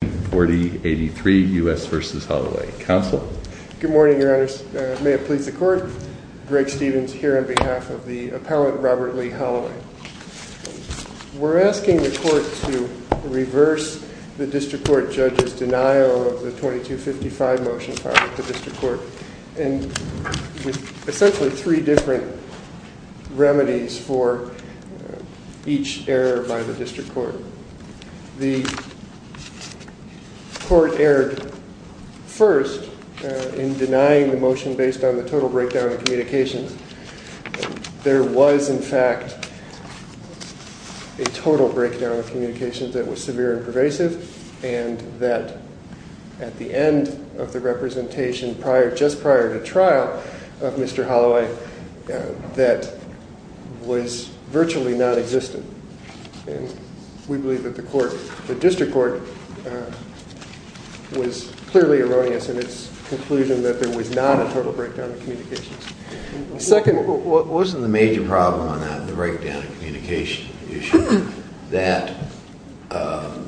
4083 U.S. v. Holloway. Counsel? Good morning, your honors. May it please the court. Greg Stephens here on behalf of the appellant Robert Lee Holloway. We're asking the court to reverse the district court judge's denial of the 2255 motion filed at the district court and with essentially three different remedies for each error by the district court. The court erred first in denying the motion based on the total breakdown of communications. There was in fact a total breakdown of communications that was severe and pervasive and that at the end of the representation prior just prior to trial of Mr. Holloway that was virtually non-existent and we believe that the court the district court was clearly erroneous in its conclusion that there was not a total breakdown of communications. Second, wasn't the major problem on that the breakdown of communication issue that the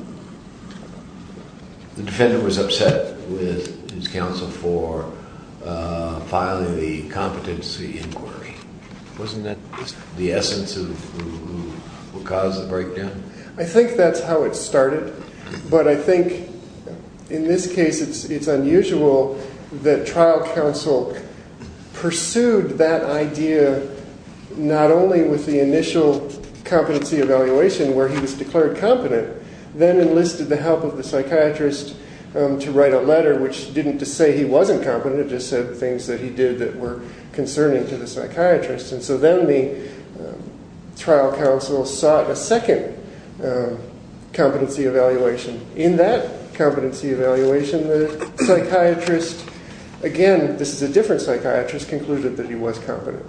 defendant was upset with his counsel for filing the competency inquiry? Wasn't that the essence of who caused the breakdown? I think that's how it started but I think in this case it's it's unusual that trial counsel pursued that idea not only with the initial competency evaluation where he was declared competent then enlisted the help of the psychiatrist to write a letter which didn't just say he wasn't competent it just said things that he did that were concerning to the psychiatrist and so then the trial counsel sought a second competency evaluation. In that competency evaluation the psychiatrist, again this is a different psychiatrist, concluded that he was competent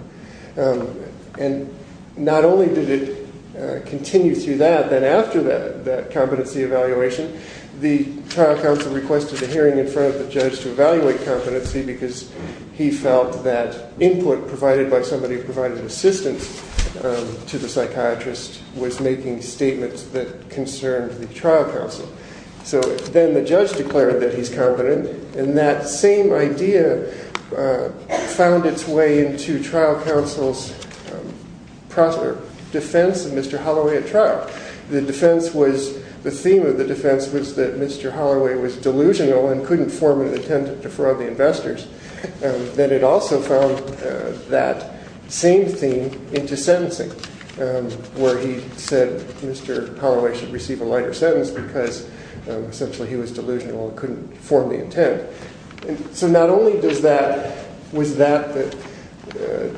and not only did it continue through that then after that that competency evaluation the trial counsel requested a hearing in front of competency because he felt that input provided by somebody who provided assistance to the psychiatrist was making statements that concerned the trial counsel. So then the judge declared that he's competent and that same idea found its way into trial counsel's defense of Mr. Holloway at trial. The defense was the theme of the defense was that Mr. Holloway was delusional and couldn't form an intent to defraud the investors. Then it also found that same theme into sentencing where he said Mr. Holloway should receive a lighter sentence because essentially he was delusional and couldn't form the intent. So not only was that the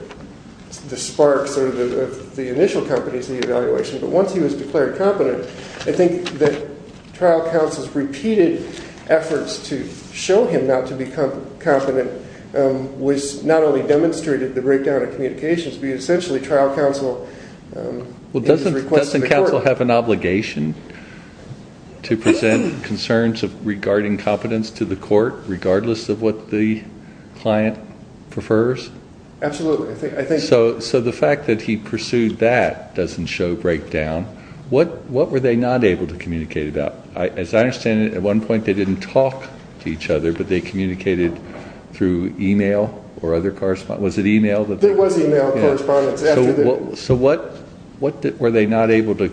spark of the initial competency evaluation but once he was declared competent I think that trial counsel's repeated efforts to show him not to be competent was not only demonstrated the breakdown of communications but essentially trial counsel... Well doesn't counsel have an obligation to present concerns of regarding competence to the court regardless of what the client prefers? Absolutely. So the fact that he pursued that doesn't show breakdown. What were they not able to communicate about? As I understand it at one point they didn't talk to each other but they communicated through email or other correspondence. Was it email? There was email correspondence. So what were they not able to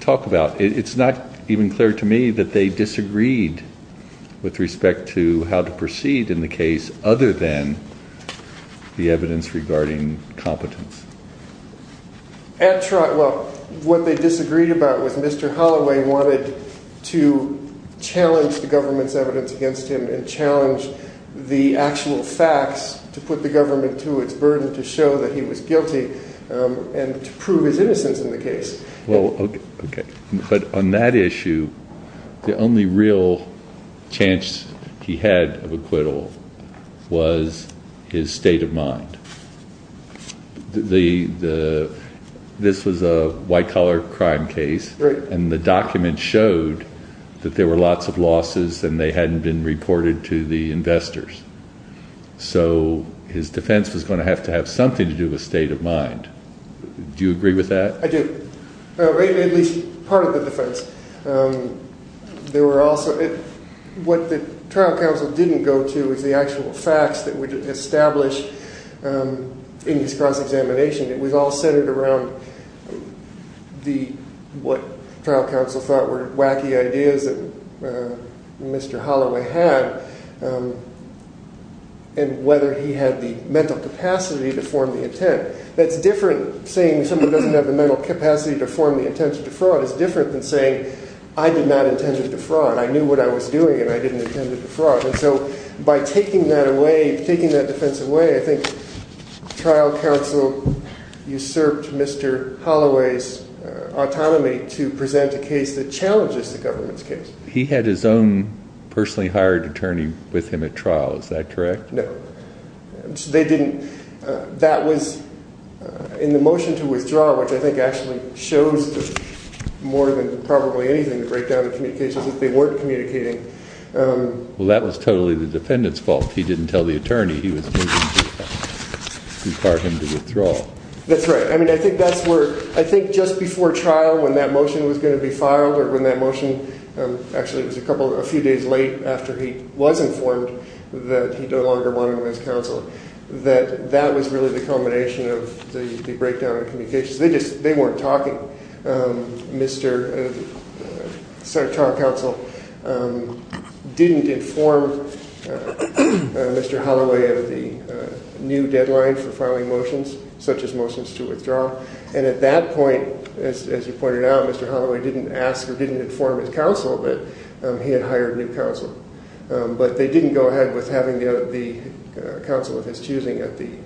talk about? It's not even clear to me that they disagreed with respect to how to proceed in the case other than the evidence regarding competence. Well what they disagreed about was Mr. Holloway wanted to challenge the government's evidence against him and challenge the actual facts to put the government to its burden to show that he was guilty and to prove his innocence in the case. But on that issue the only real chance he had of acquittal was his state of mind. This was a white-collar crime case and the document showed that there were lots of losses and they hadn't been reported to the investors so his defense was going to have to have something to do with state of mind. Do you agree with that? I do. At least part of the defense. What the trial counsel didn't go to is the actual facts that would establish in his cross examination. It was all centered around what trial counsel thought were wacky ideas that Mr. Holloway had and whether he had the mental capacity to form the intent to defraud is different than saying I did not intend to defraud. I knew what I was doing and I didn't intend to defraud. And so by taking that away, taking that defense away, I think trial counsel usurped Mr. Holloway's autonomy to present a case that challenges the government's case. He had his own personally hired attorney with him at trial, is that correct? No. They didn't. That was in the motion to withdraw, which I think actually shows more than probably anything to break down the communications that they weren't communicating. Well that was totally the defendant's fault. He didn't tell the attorney he was going to require him to withdraw. That's right. I mean I think that's where, I think just before trial when that motion was going to be filed or when that motion, actually it was a couple, a few days late after he was informed that he no longer wanted him as counsel, that that was really the culmination of the breakdown of communications. They just, they weren't talking. Mr., sorry, trial counsel didn't inform Mr. Holloway of the new deadline for filing motions such as motions to withdraw. And at that point, as you pointed out, Mr. Holloway didn't ask or didn't inform his counsel that he had hired new counsel. But they didn't go to the counsel of his choosing at the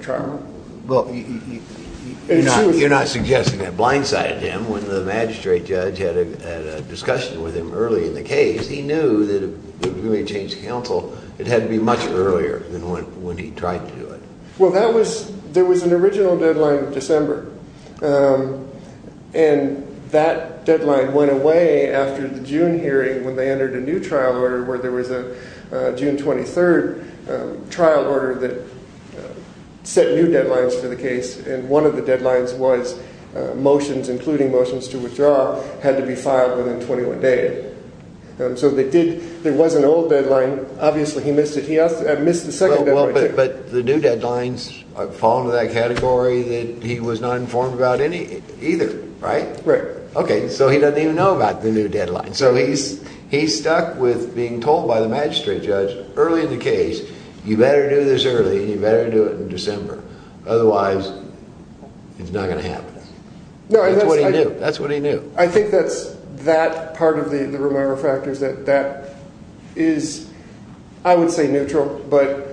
trial. Well, you're not suggesting that blindsided him. When the magistrate judge had a discussion with him early in the case, he knew that if we were going to change counsel, it had to be much earlier than when he tried to do it. Well that was, there was an original deadline of December. And that deadline went away after the June hearing when they entered a new trial order where there was a June 23rd trial order that set new deadlines for the case. And one of the deadlines was motions, including motions to withdraw, had to be filed within 21 days. So they did, there was an old deadline. Obviously he missed it. He missed the second deadline too. But the new deadlines fall into that category that he was not informed about any, either, right? Right. Okay, so he doesn't even know about the new deadline. So he's, he's stuck with being told by the magistrate judge early in the case, you better do this early, you better do it in December. Otherwise, it's not going to happen. That's what he knew. That's what he knew. I think that's that part of the, the Romero factors that, that is, I would say neutral, but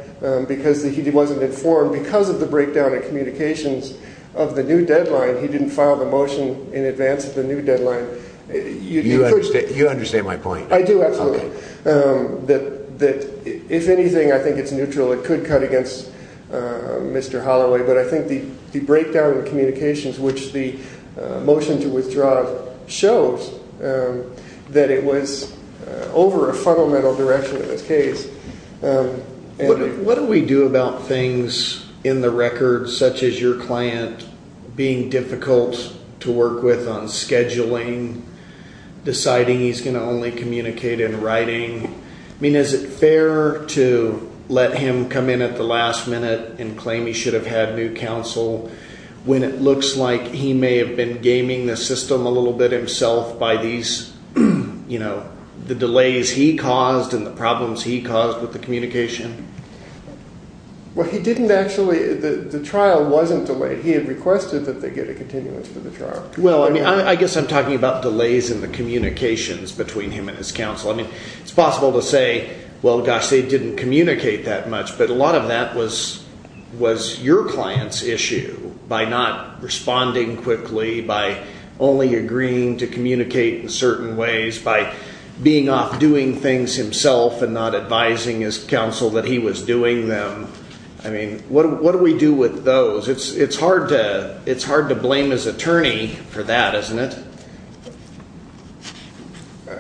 because he wasn't informed because of the breakdown in communications of the new deadline, he didn't file the motion in advance of the new deadline. You understand, you understand my point. I do, absolutely. That, that, if anything, I think it's neutral. It could cut against Mr. Holloway, but I think the breakdown in communications, which the motion to withdraw shows, that it was over a fundamental direction in this case. What do we do about things in the deciding he's going to only communicate in writing? I mean, is it fair to let him come in at the last minute and claim he should have had new counsel when it looks like he may have been gaming the system a little bit himself by these, you know, the delays he caused and the problems he caused with the communication? Well, he didn't actually, the trial wasn't delayed. He had I'm talking about delays in the communications between him and his counsel. I mean, it's possible to say, well, gosh, they didn't communicate that much, but a lot of that was, was your client's issue by not responding quickly, by only agreeing to communicate in certain ways, by being off doing things himself and not advising his counsel that he was doing them. I mean, what do we do with those? It's, it's hard to, it's hard to blame his attorney for that, isn't it?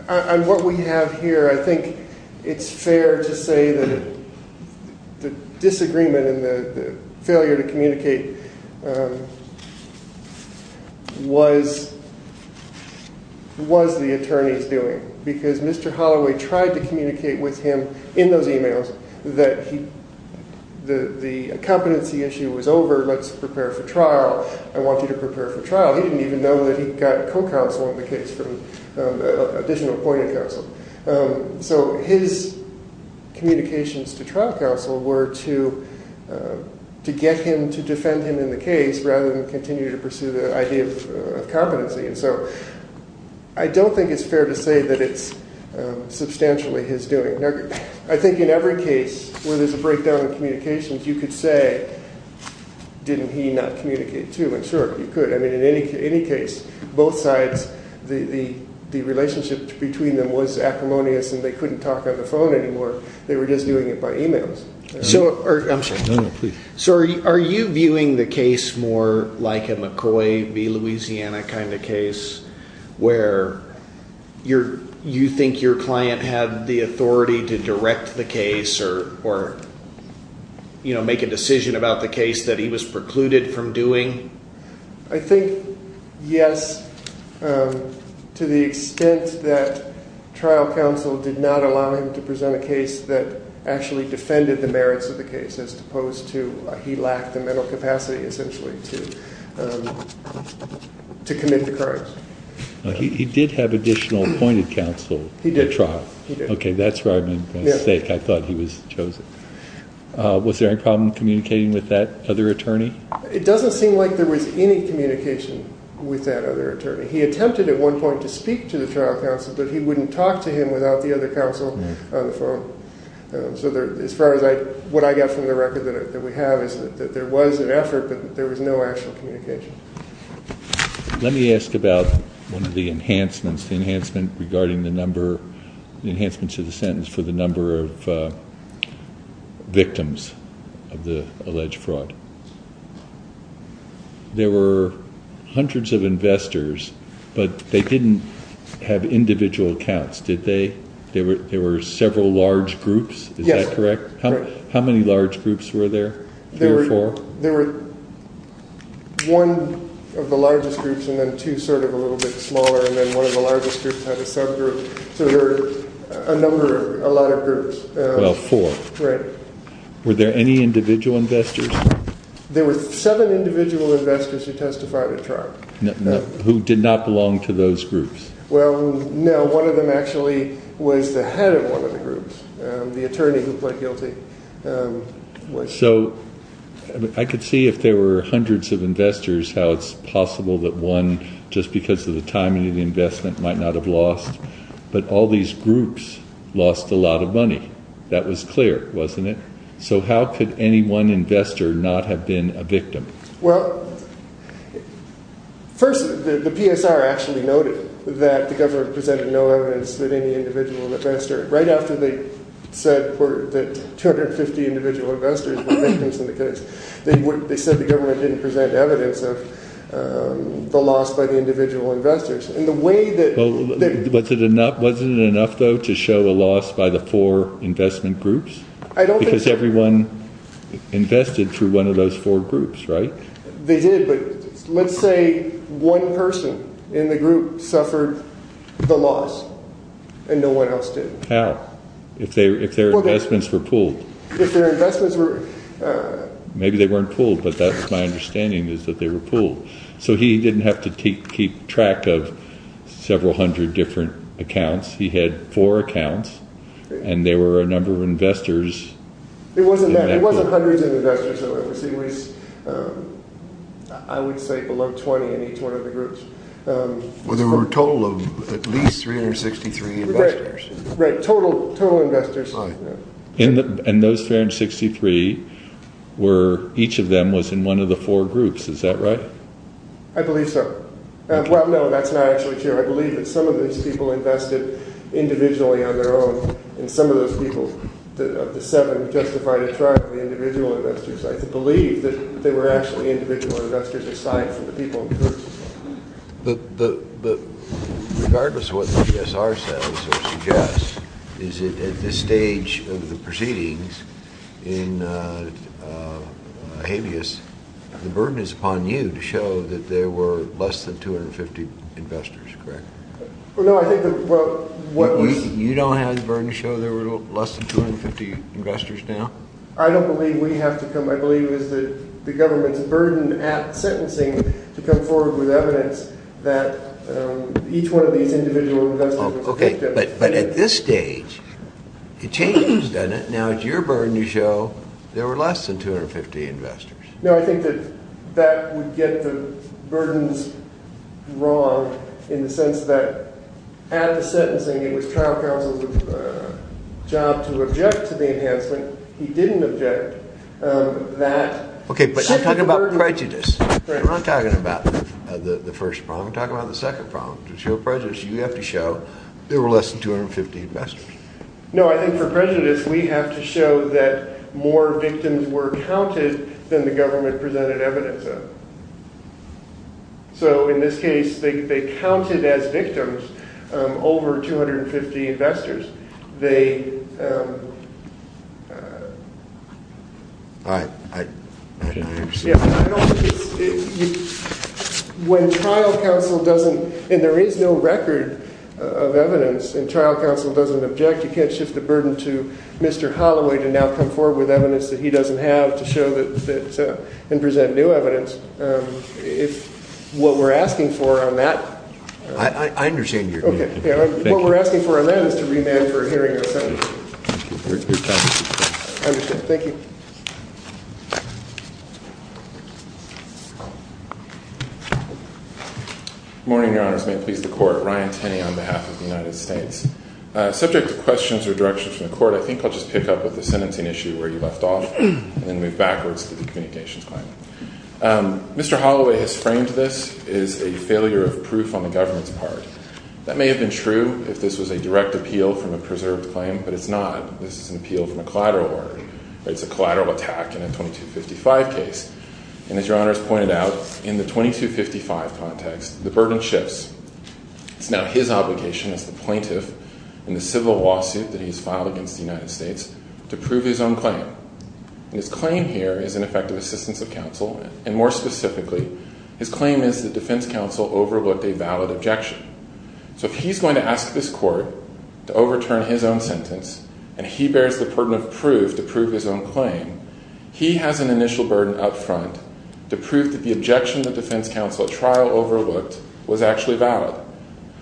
On what we have here, I think it's fair to say that the disagreement and the failure to communicate was, was the attorney's doing, because Mr. Holloway tried to communicate with him in those emails that he, the, the competency issue was over, let's prepare for trial. I want you to prepare for that. We've got a co-counsel in the case from additional appointed counsel. So his communications to trial counsel were to, to get him to defend him in the case rather than continue to pursue the idea of competency. And so I don't think it's fair to say that it's substantially his doing. I think in every case where there's a breakdown in communications, you could say, didn't he not communicate too? And sure, you could. I mean, in any, any case, both sides, the, the, the relationship between them was acrimonious and they couldn't talk on the phone anymore. They were just doing it by emails. So, I'm sorry. No, no, please. So are you viewing the case more like a McCoy v. Louisiana kind of case where you're, you think your client had the authority to direct the case or, or, you know, make a decision? I think, yes, to the extent that trial counsel did not allow him to present a case that actually defended the merits of the case as opposed to he lacked the mental capacity, essentially, to, to commit the crimes. He did have additional appointed counsel. He did. Okay, that's where I made a mistake. I thought he was chosen. Was there any problem communicating with that other attorney? It doesn't seem like there was any communication with that other attorney. He attempted at one point to speak to the trial counsel, but he wouldn't talk to him without the other counsel on the phone. So there, as far as I, what I got from the record that we have is that there was an effort, but there was no actual communication. Let me ask about one of the enhancements, the enhancement regarding the number, the enhancements of the sentence for the number of victims of the alleged fraud. There were hundreds of investors, but they didn't have individual accounts, did they? There were, there were several large groups, is that correct? How many large groups were there, three or four? There were one of the largest groups and then two sort of a little bit smaller and then one of the individual investors? There were seven individual investors who testified at trial. Who did not belong to those groups? Well, no, one of them actually was the head of one of the groups, the attorney who pled guilty. So I could see if there were hundreds of investors how it's possible that one, just because of the timing of the investment, might not have lost, but all these groups lost a lot of How could any one investor not have been a victim? Well, first the PSR actually noted that the government presented no evidence that any individual investor, right after they said that 250 individual investors were victims in the case, they said the government didn't present evidence of the loss by the individual investors. And the way that... Was it enough, wasn't it enough though to show a loss by the four investment groups? I don't think so. Because everyone invested through one of those four groups, right? They did, but let's say one person in the group suffered the loss and no one else did. How? If their investments were pooled. If their investments were... Maybe they weren't pooled, but that's my understanding is that they were pooled. So he didn't have to keep track of several hundred different accounts. He had four accounts, and there were a number of investors... It wasn't that. It wasn't hundreds of investors. It was, I would say, below 20 in each one of the groups. Well, there were a total of at least 363 investors. Right, total investors. And those 363 were, each of them was in one of the four groups, is that right? I believe so. Well, no, that's not actually true. I believe that some of those people invested individually on their own, and some of those people, of the seven, justified a trial of the individual investors. I believe that they were actually individual investors aside from the people in groups. But regardless of what the GSR says or suggests, is it at this stage of the proceedings in habeas, the burden is upon you to show that there were less than 250 investors, correct? Well, no, I think that... You don't have the burden to show there were less than 250 investors now? I don't believe we have to come... I believe it is the government's burden at sentencing to come forward with evidence that each one of these individual investors was a victim. But at this stage, it changes, doesn't it? Now it's your burden to show there were less than 250 investors. No, I think that that would get the burdens wrong in the sense that at the sentencing, it was trial counsel's job to object to the enhancement. He didn't object that... Okay, but I'm talking about prejudice. We're not talking about the first problem. I'm talking about the second problem. To show prejudice, you have to show there were less than 250 investors. No, I think for prejudice, we have to show that more victims were counted than the government presented evidence of. So in this case, they counted as victims over 250 investors. They... I don't understand. When trial counsel doesn't... And there is no record of evidence, and trial counsel doesn't object, you can't shift the burden to Mr. Holloway to now come forward with evidence that he doesn't have to show and present new evidence. What we're asking for on that... I understand you. What we're asking for on that is to remand for a hearing in the Senate. Thank you. Good morning, Your Honors. May it please the Court. Ryan Tenney on behalf of the United States. Subject to questions or directions from the Court, I think I'll just pick up with the sentencing issue where you left off, and then move backwards to the communications claim. Mr. Holloway has framed this as a failure of proof on the government's part. That may have been true if this was a direct appeal from a preserved claim, but it's not. This is an appeal from a collateral order. It's a collateral attack in a 2255 case. And as Your Honors pointed out, in the 2255 context, the burden shifts. It's now his obligation as the plaintiff in the civil lawsuit that he's filed against the United States to prove his own claim. And his claim here is an effective assistance of counsel, and more specifically, his claim is that defense counsel overlooked a valid objection. So if he's going to ask this Court to overturn his own sentence, and he bears the burden of proof to prove his own claim, he has an initial burden up front to prove that the objection that defense counsel at trial overlooked was actually valid.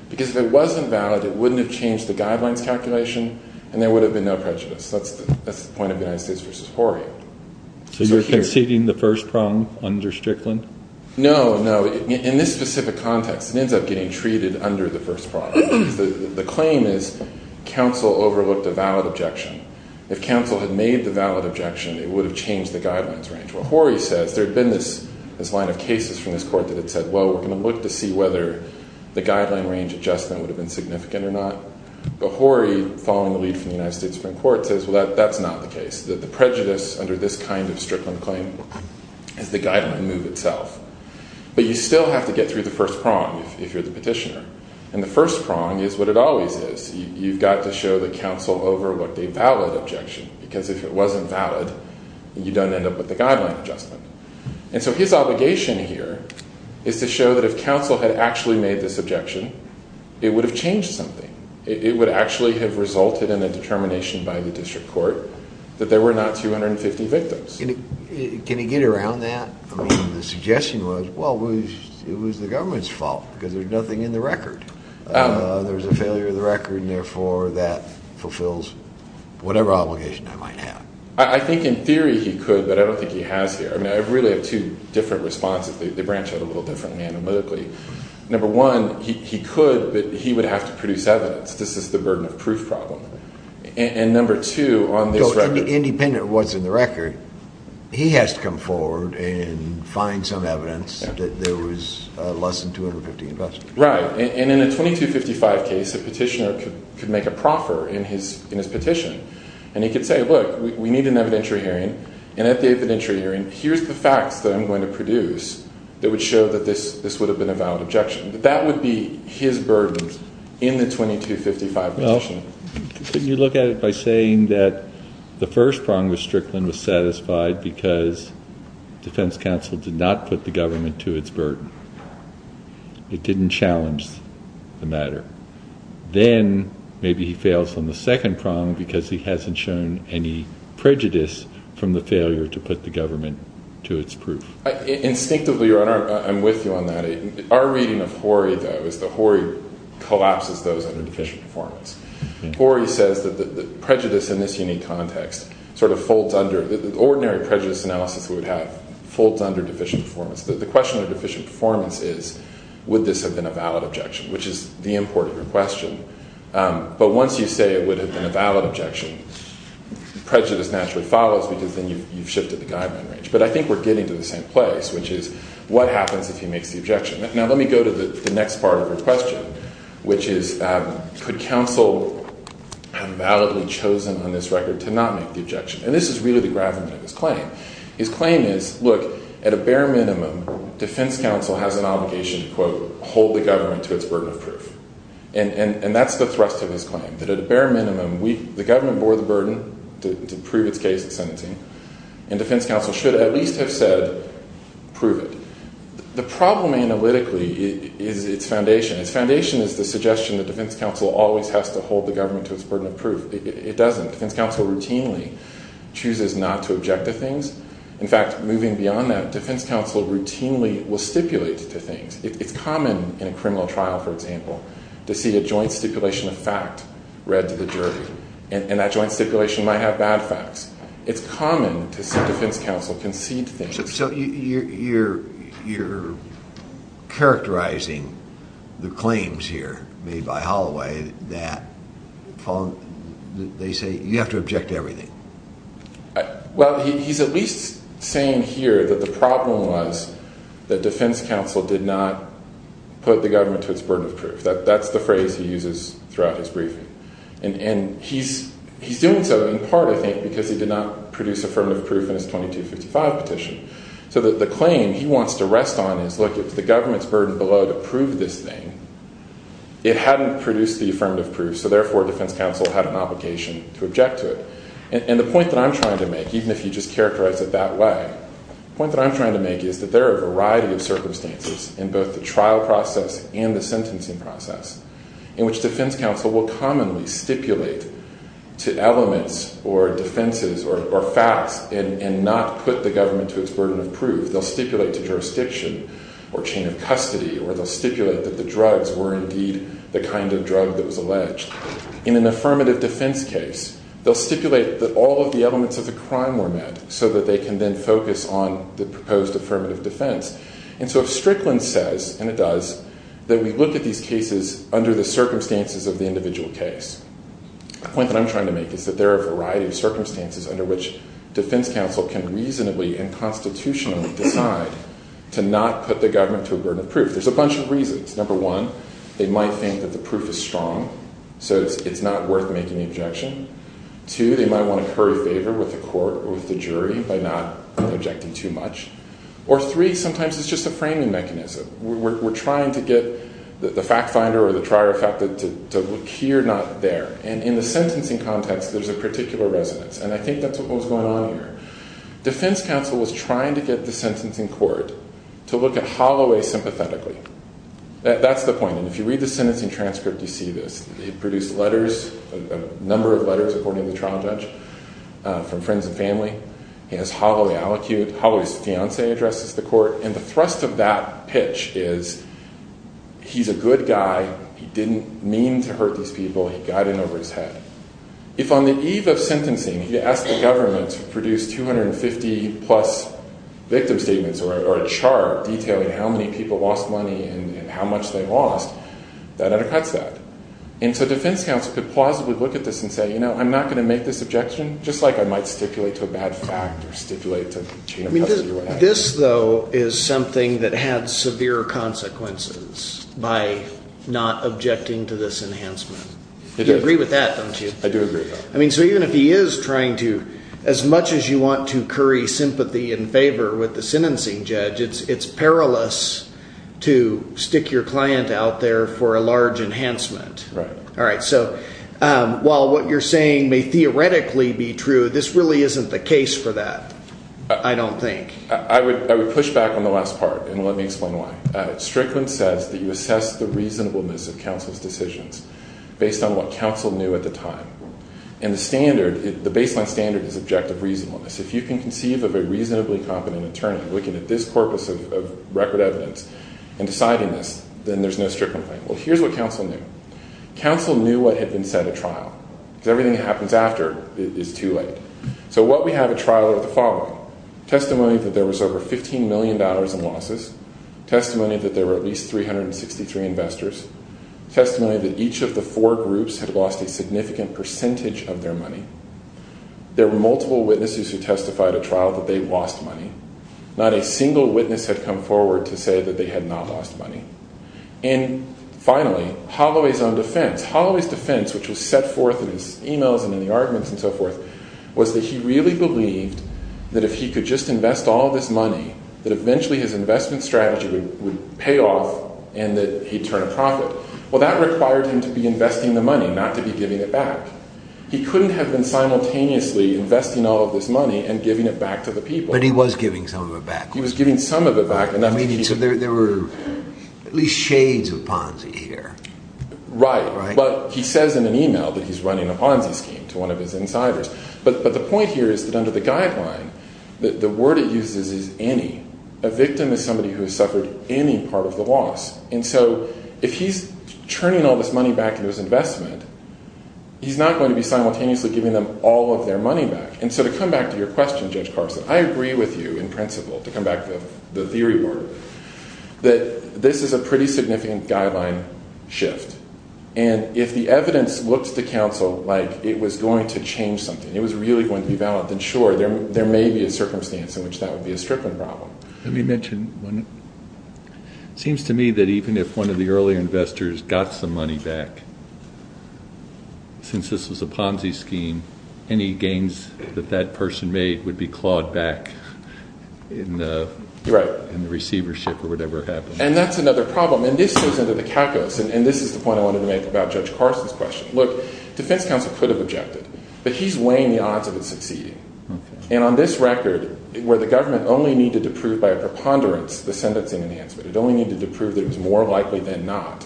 Because if it wasn't valid, it wouldn't have changed the guidelines calculation, and there would have been no prejudice. That's the point of the United States v. Horry. So you're conceding the first prong under Strickland? No, no. In this specific context, it ends up getting treated under the first prong. The claim is counsel overlooked a valid objection. If counsel had made the valid objection, it would have changed the guidelines range. Well, Horry says there had been this line of cases from this Court that had said, well, we're going to look to see whether the guideline range adjustment would have been significant or not. But Horry, following the lead from the United States Supreme Court, says, well, that's not the case. The prejudice under this kind of Strickland claim is the guideline move itself. But you still have to get through the first prong if you're the petitioner. And the first prong is what it always is. You've got to show that counsel overlooked a valid objection. Because if it wasn't valid, you don't end up with the guideline adjustment. And so his obligation here is to show that if counsel had actually made this objection, it would have changed something. It would actually have resulted in a determination by the District Court that there were not 250 victims. Can he get around that? I mean, the suggestion was, well, it was the government's fault because there's nothing in the record. There was a failure of the record, and therefore, that fulfills whatever obligation I might have. I think in theory he could, but I don't think he has here. I mean, I really have two different responses. They branch out a little differently analytically. Number one, he could, but he would have to produce evidence. This is the burden of proof problem. And number two, on this record. Independent of what's in the record, he has to come forward and find some evidence that there was less than 250 investors. Right. And in a 2255 case, a petitioner could make a proffer in his petition. And he could say, look, we need an evidentiary hearing. And at the evidentiary hearing, here's the facts that I'm going to produce that would show that this would have been a valid objection. That would be his burden in the 2255 petition. Couldn't you look at it by saying that the first prong with Strickland was satisfied because defense counsel did not put the government to its burden. It didn't challenge the matter. Then maybe he fails on the second prong because he hasn't shown any prejudice from the failure to put the government to its proof. Instinctively, I'm with you on that. Our reading of Horry, though, is that Horry collapses those under deficient performance. Horry says that the prejudice in this unique context sort of folds under the ordinary prejudice analysis we would have, folds under deficient performance. The question of deficient performance is, would this have been a valid objection, which is the import of your question. But once you say it would have been a valid objection, prejudice naturally follows because then you've shifted the guideline range. But I think we're getting to the same place, which is, what happens if he makes the objection? Now, let me go to the next part of your question, which is, could counsel have validly chosen on this record to not make the objection? And this is really the gravamen of his claim. His claim is, look, at a bare minimum, defense counsel has an obligation to, quote, hold the government to its burden of proof. And that's the thrust of his claim, that at a bare minimum, the government bore the burden to prove its case of sentencing, and defense counsel should at least have said, prove it. The problem analytically is its foundation. Its foundation is the suggestion that defense counsel always has to hold the government to its burden of proof. It doesn't. Defense counsel routinely chooses not to object to things. In fact, moving beyond that, defense counsel routinely will stipulate to things. It's common in a criminal trial, for example, to see a joint stipulation of fact read to the jury. And that joint stipulation might have bad facts. It's common to see defense counsel concede things. So you're characterizing the claims here made by Holloway that they say you have to object to everything. Well, he's at least saying here that the problem was that defense counsel did not put the government to its burden of proof. That's the phrase he uses throughout his briefing. And he's doing so in part, I think, because he did not produce affirmative proof in his 2255 petition. So the claim he wants to rest on is, look, if the government's burden below to prove this thing, it hadn't produced the affirmative proof. So therefore, defense counsel had an obligation to object to it. And the point that I'm trying to make, even if you just characterize it that way, the point that I'm trying to make is that there are a variety of circumstances in both the trial process and the sentencing process in which defense counsel will commonly stipulate to elements or defenses or facts and not put the government to its burden of proof. They'll stipulate to jurisdiction or chain of custody, or they'll stipulate that the drugs were indeed the kind of drug that was alleged. In an affirmative defense case, they'll stipulate that all of the elements of the crime were met so that they can then focus on the proposed affirmative defense. And so if Strickland says, and it does, that we look at these cases under the circumstances of the individual case, the point that I'm trying to make is that there are a variety of circumstances under which defense counsel can reasonably and constitutionally decide to not put the government to a burden of proof. There's a bunch of reasons. Number one, they might think that the proof is strong, so it's not worth making the objection. Two, they might want to curry favor with the court or with the jury by not objecting too much. Or three, sometimes it's just a framing mechanism. We're trying to get the fact finder or the trier of fact to look here, not there. And in the sentencing context, there's a particular resonance. And I think that's what was going on here. Defense counsel was trying to get the sentencing court to look at Holloway sympathetically. That's the point. And if you read the sentencing transcript, you see this. They produced letters, a number of letters, according to the trial judge, from friends and family. He has Holloway allocuted. Holloway's fiancee addresses the court. And the thrust of that pitch is he's a good guy. He didn't mean to hurt these people. He got in over his head. If on the eve of sentencing you ask the government to produce 250-plus victim statements or a chart detailing how many people lost money and how much they lost, that undercuts that. And so defense counsel could plausibly look at this and say, you know, I'm not going to make this objection, just like I might stipulate to a bad fact or stipulate to a chain of custody or whatever. This, though, is something that had severe consequences by not objecting to this enhancement. You agree with that, don't you? I do agree. I mean, so even if he is trying to, as much as you want to curry sympathy and favor with the sentencing judge, it's perilous to stick your client out there for a large enhancement. Right. All right. So while what you're saying may theoretically be true, this really isn't the case for that, I don't think. I would push back on the last part and let me explain why. Strickland says that you assess the reasonableness of counsel's decisions based on what counsel knew at the time. And the baseline standard is objective reasonableness. If you can conceive of a reasonably competent attorney looking at this corpus of record evidence and deciding this, then there's no Strickland claim. Well, here's what counsel knew. Counsel knew what had been said at trial because everything that happens after is too late. So what we have at trial are the following. Testimony that there was over $15 million in losses. Testimony that there were at least 363 investors. Testimony that each of the four groups had lost a significant percentage of their money. There were multiple witnesses who testified at trial that they lost money. Not a single witness had come forward to say that they had not lost money. And finally, Holloway's own defense. Holloway's defense, which was set forth in his emails and in the arguments and so forth, was that he really believed that if he could just invest all this money, that eventually his investment strategy would pay off and that he'd turn a profit. Well, that required him to be investing the money, not to be giving it back. He couldn't have been simultaneously investing all of this money and giving it back to the people. But he was giving some of it back. He was giving some of it back. Meaning there were at least shades of Ponzi here. Right. But he says in an email that he's running a Ponzi scheme to one of his insiders. But the point here is that under the guideline, the word it uses is any. A victim is somebody who has suffered any part of the loss. And so if he's turning all this money back into his investment, he's not going to be simultaneously giving them all of their money back. And so to come back to your question, Judge Carson, I agree with you in principle, to come back to the theory part, that this is a pretty significant guideline shift. And if the evidence looks to counsel like it was going to change something, it was really going to be valid, then sure, there may be a circumstance in which that would be a stripping problem. Let me mention one. It seems to me that even if one of the earlier investors got some money back, since this was a Ponzi scheme, any gains that that person made would be clawed back in the receivership or whatever happened. And that's another problem. And this goes into the calculus. And this is the point I wanted to make about Judge Carson's question. Look, defense counsel could have objected. But he's weighing the odds of it succeeding. And on this record, where the government only needed to prove by a preponderance the sentencing enhancement, it only needed to prove that it was more likely than not.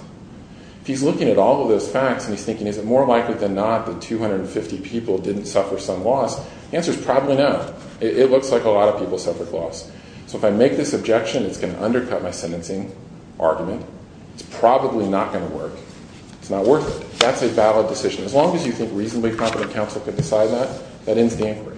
If he's looking at all of those facts and he's thinking, is it more likely than not that 250 people didn't suffer some loss, the answer is probably no. It looks like a lot of people suffered loss. So if I make this objection, it's going to undercut my sentencing argument. It's probably not going to work. It's not worth it. That's a valid decision. As long as you think reasonably competent counsel can decide that, that ends the inquiry.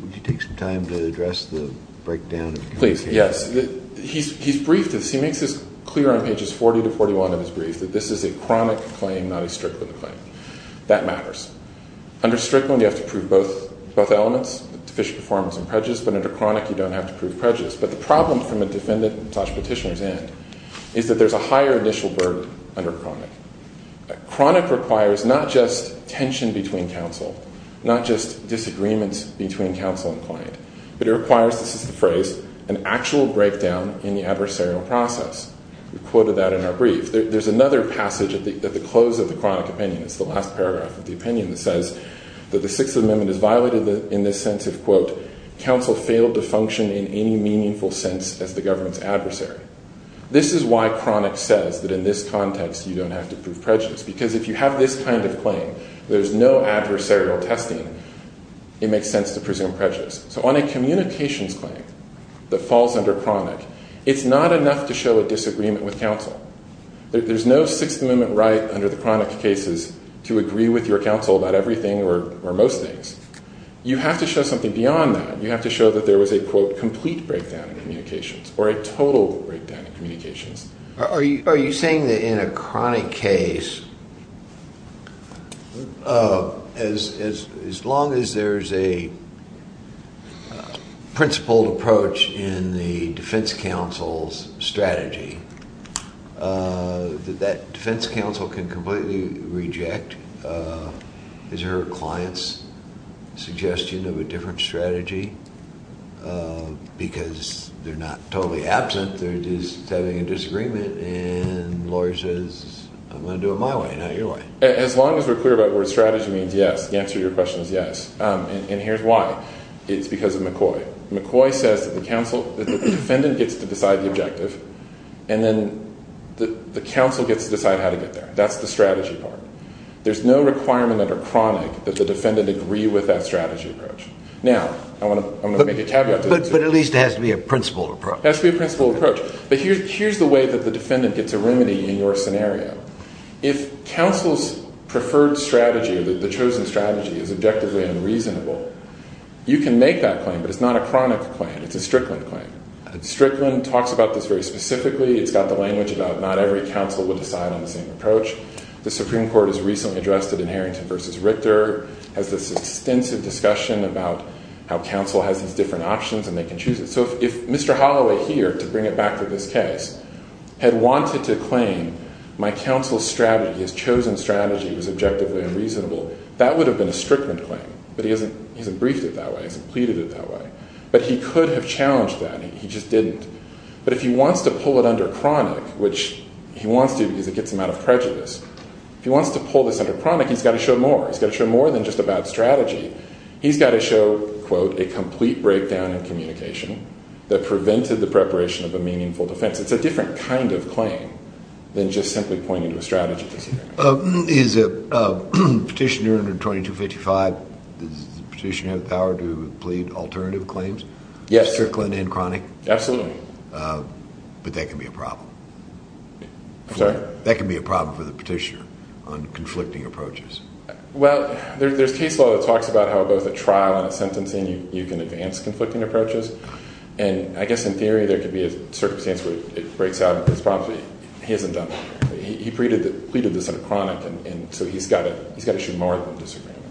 Would you take some time to address the breakdown? Please, yes. He's briefed this. He makes this clear on pages 40 to 41 of his brief, that this is a chronic claim, not a strict claim. That matters. Under strict one, you have to prove both elements, deficient performance and prejudice. But under chronic, you don't have to prove prejudice. But the problem from a defendant and such petitioner's end is that there's a higher initial burden under chronic. Chronic requires not just tension between counsel, not just disagreements between counsel and client, but it requires, this is the phrase, an actual breakdown in the adversarial process. We quoted that in our brief. There's another passage at the close of the chronic opinion. It's the last paragraph of the opinion that says that the Sixth Amendment is violated in the sense of, quote, counsel failed to function in any meaningful sense as the government's adversary. This is why chronic says that in this context, you don't have to prove prejudice. Because if you have this kind of claim, there's no adversarial testing, it makes sense to presume prejudice. So on a communications claim that falls under chronic, it's not enough to show a disagreement with counsel. There's no Sixth Amendment right under the chronic cases to agree with your counsel about everything or most things. You have to show something beyond that. You have to show that there was a, quote, complete breakdown in communications or a total breakdown in communications. Are you saying that in a chronic case, as long as there's a principled approach in the defense counsel's strategy, that that defense counsel can completely reject his or her client's suggestion of a different strategy? Because they're not totally absent, they're just having a disagreement, and the lawyer says, I'm going to do it my way, not your way. As long as we're clear about where strategy means yes, the answer to your question is yes. And here's why. It's because of McCoy. McCoy says that the defendant gets to decide the objective, and then the counsel gets to decide how to get there. That's the strategy part. There's no requirement under chronic that the defendant agree with that strategy approach. Now, I want to make a caveat. But at least it has to be a principled approach. It has to be a principled approach. But here's the way that the defendant gets a remedy in your scenario. If counsel's preferred strategy, the chosen strategy, is objectively unreasonable, you can make that claim, but it's not a chronic claim. It's a Strickland claim. Strickland talks about this very specifically. It's got the language about not every counsel would decide on the same approach. The Supreme Court has recently addressed it in Harrington v. Richter. It has this extensive discussion about how counsel has these different options, and they can choose it. So if Mr. Holloway here, to bring it back to this case, had wanted to claim my counsel's strategy, his chosen strategy, was objectively unreasonable, that would have been a Strickland claim. But he hasn't briefed it that way. He hasn't pleaded it that way. But he could have challenged that. He just didn't. But if he wants to pull it under chronic, which he wants to because it gets him out of prejudice, if he wants to pull this under chronic, he's got to show more. He's got to show more than just about strategy. He's got to show, quote, a complete breakdown in communication that prevented the preparation of a meaningful defense. It's a different kind of claim than just simply pointing to a strategy. Is a petitioner under 2255, does the petitioner have the power to plead alternative claims? Yes. Strickland and chronic? Absolutely. But that can be a problem. Sorry? That can be a problem for the petitioner on conflicting approaches. Well, there's case law that talks about how both a trial and a sentencing, you can advance conflicting approaches. And I guess in theory, there could be a circumstance where it breaks out. He hasn't done that. He pleaded this under chronic, and so he's got to show more than disagreement.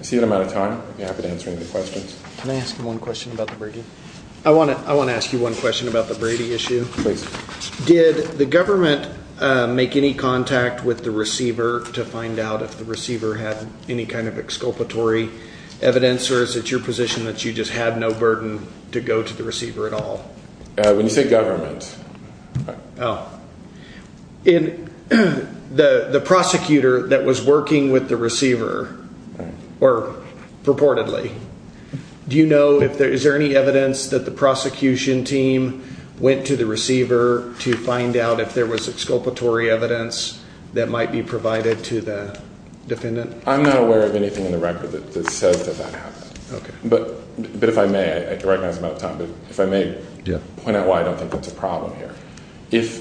I see that I'm out of time. I'd be happy to answer any questions. Can I ask you one question about the Brady? I want to ask you one question about the Brady issue. Please. Did the government make any contact with the receiver to find out if the receiver had any kind of exculpatory evidence? Or is it your position that you just had no burden to go to the receiver at all? When you say government. Oh. In the prosecutor that was working with the receiver, or purportedly, do you know if there is any evidence that the prosecution team went to the receiver to find out if there was exculpatory evidence that might be provided to the defendant? I'm not aware of anything in the record that says that that happened. But if I may, I recognize I'm out of time, but if I may point out why I don't think that's a problem here. If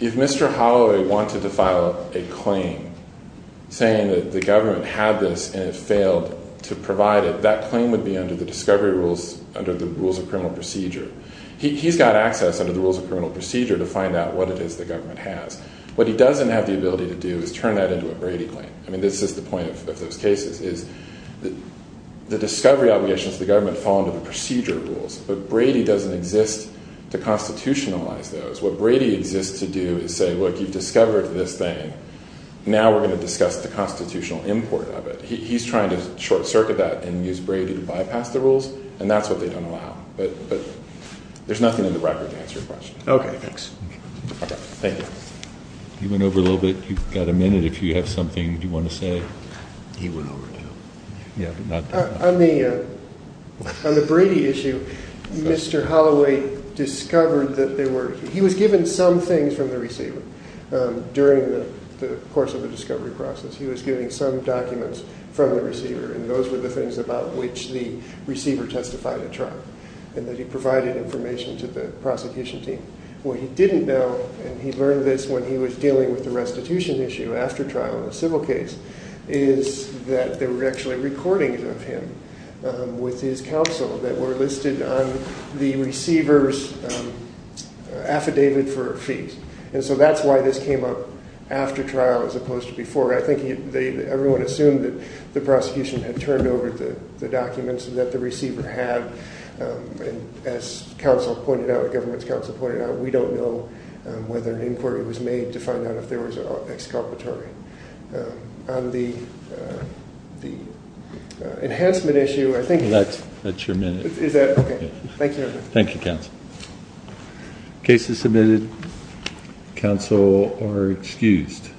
Mr. Holloway wanted to file a claim saying that the government had this and it failed to provide it, that claim would be under the discovery rules, under the rules of criminal procedure. He's got access under the rules of criminal procedure to find out what it is the government has. What he doesn't have the ability to do is turn that into a Brady claim. I mean, this is the point of those cases, is the discovery obligations of the government fall under the procedure rules. But Brady doesn't exist to constitutionalize those. What Brady exists to do is say, look, you've discovered this thing. Now we're going to discuss the constitutional import of it. He's trying to short-circuit that and use Brady to bypass the rules, and that's what they don't allow. But there's nothing in the record to answer your question. Okay, thanks. Thank you. You went over a little bit. You've got a minute if you have something you want to say. He went over, too. Yeah, but not that long. On the Brady issue, Mr. Holloway discovered that there wereóhe was given some things from the receiver during the course of the discovery process. He was given some documents from the receiver, and those were the things about which the receiver testified at trial, and that he provided information to the prosecution team. What he didn't knowóand he learned this when he was dealing with the restitution issue after trial in a civil caseó with his counsel that were listed on the receiver's affidavit for fees. And so that's why this came up after trial as opposed to before. I think everyone assumed that the prosecution had turned over the documents that the receiver had. And as counsel pointed out, the government's counsel pointed out, we don't know whether an inquiry was made to find out if there was an exculpatory. On the enhancement issue, I thinkó That's your minute. Is thatóokay. Thank you, everyone. Thank you, counsel. Case is submitted. Counsel are excused.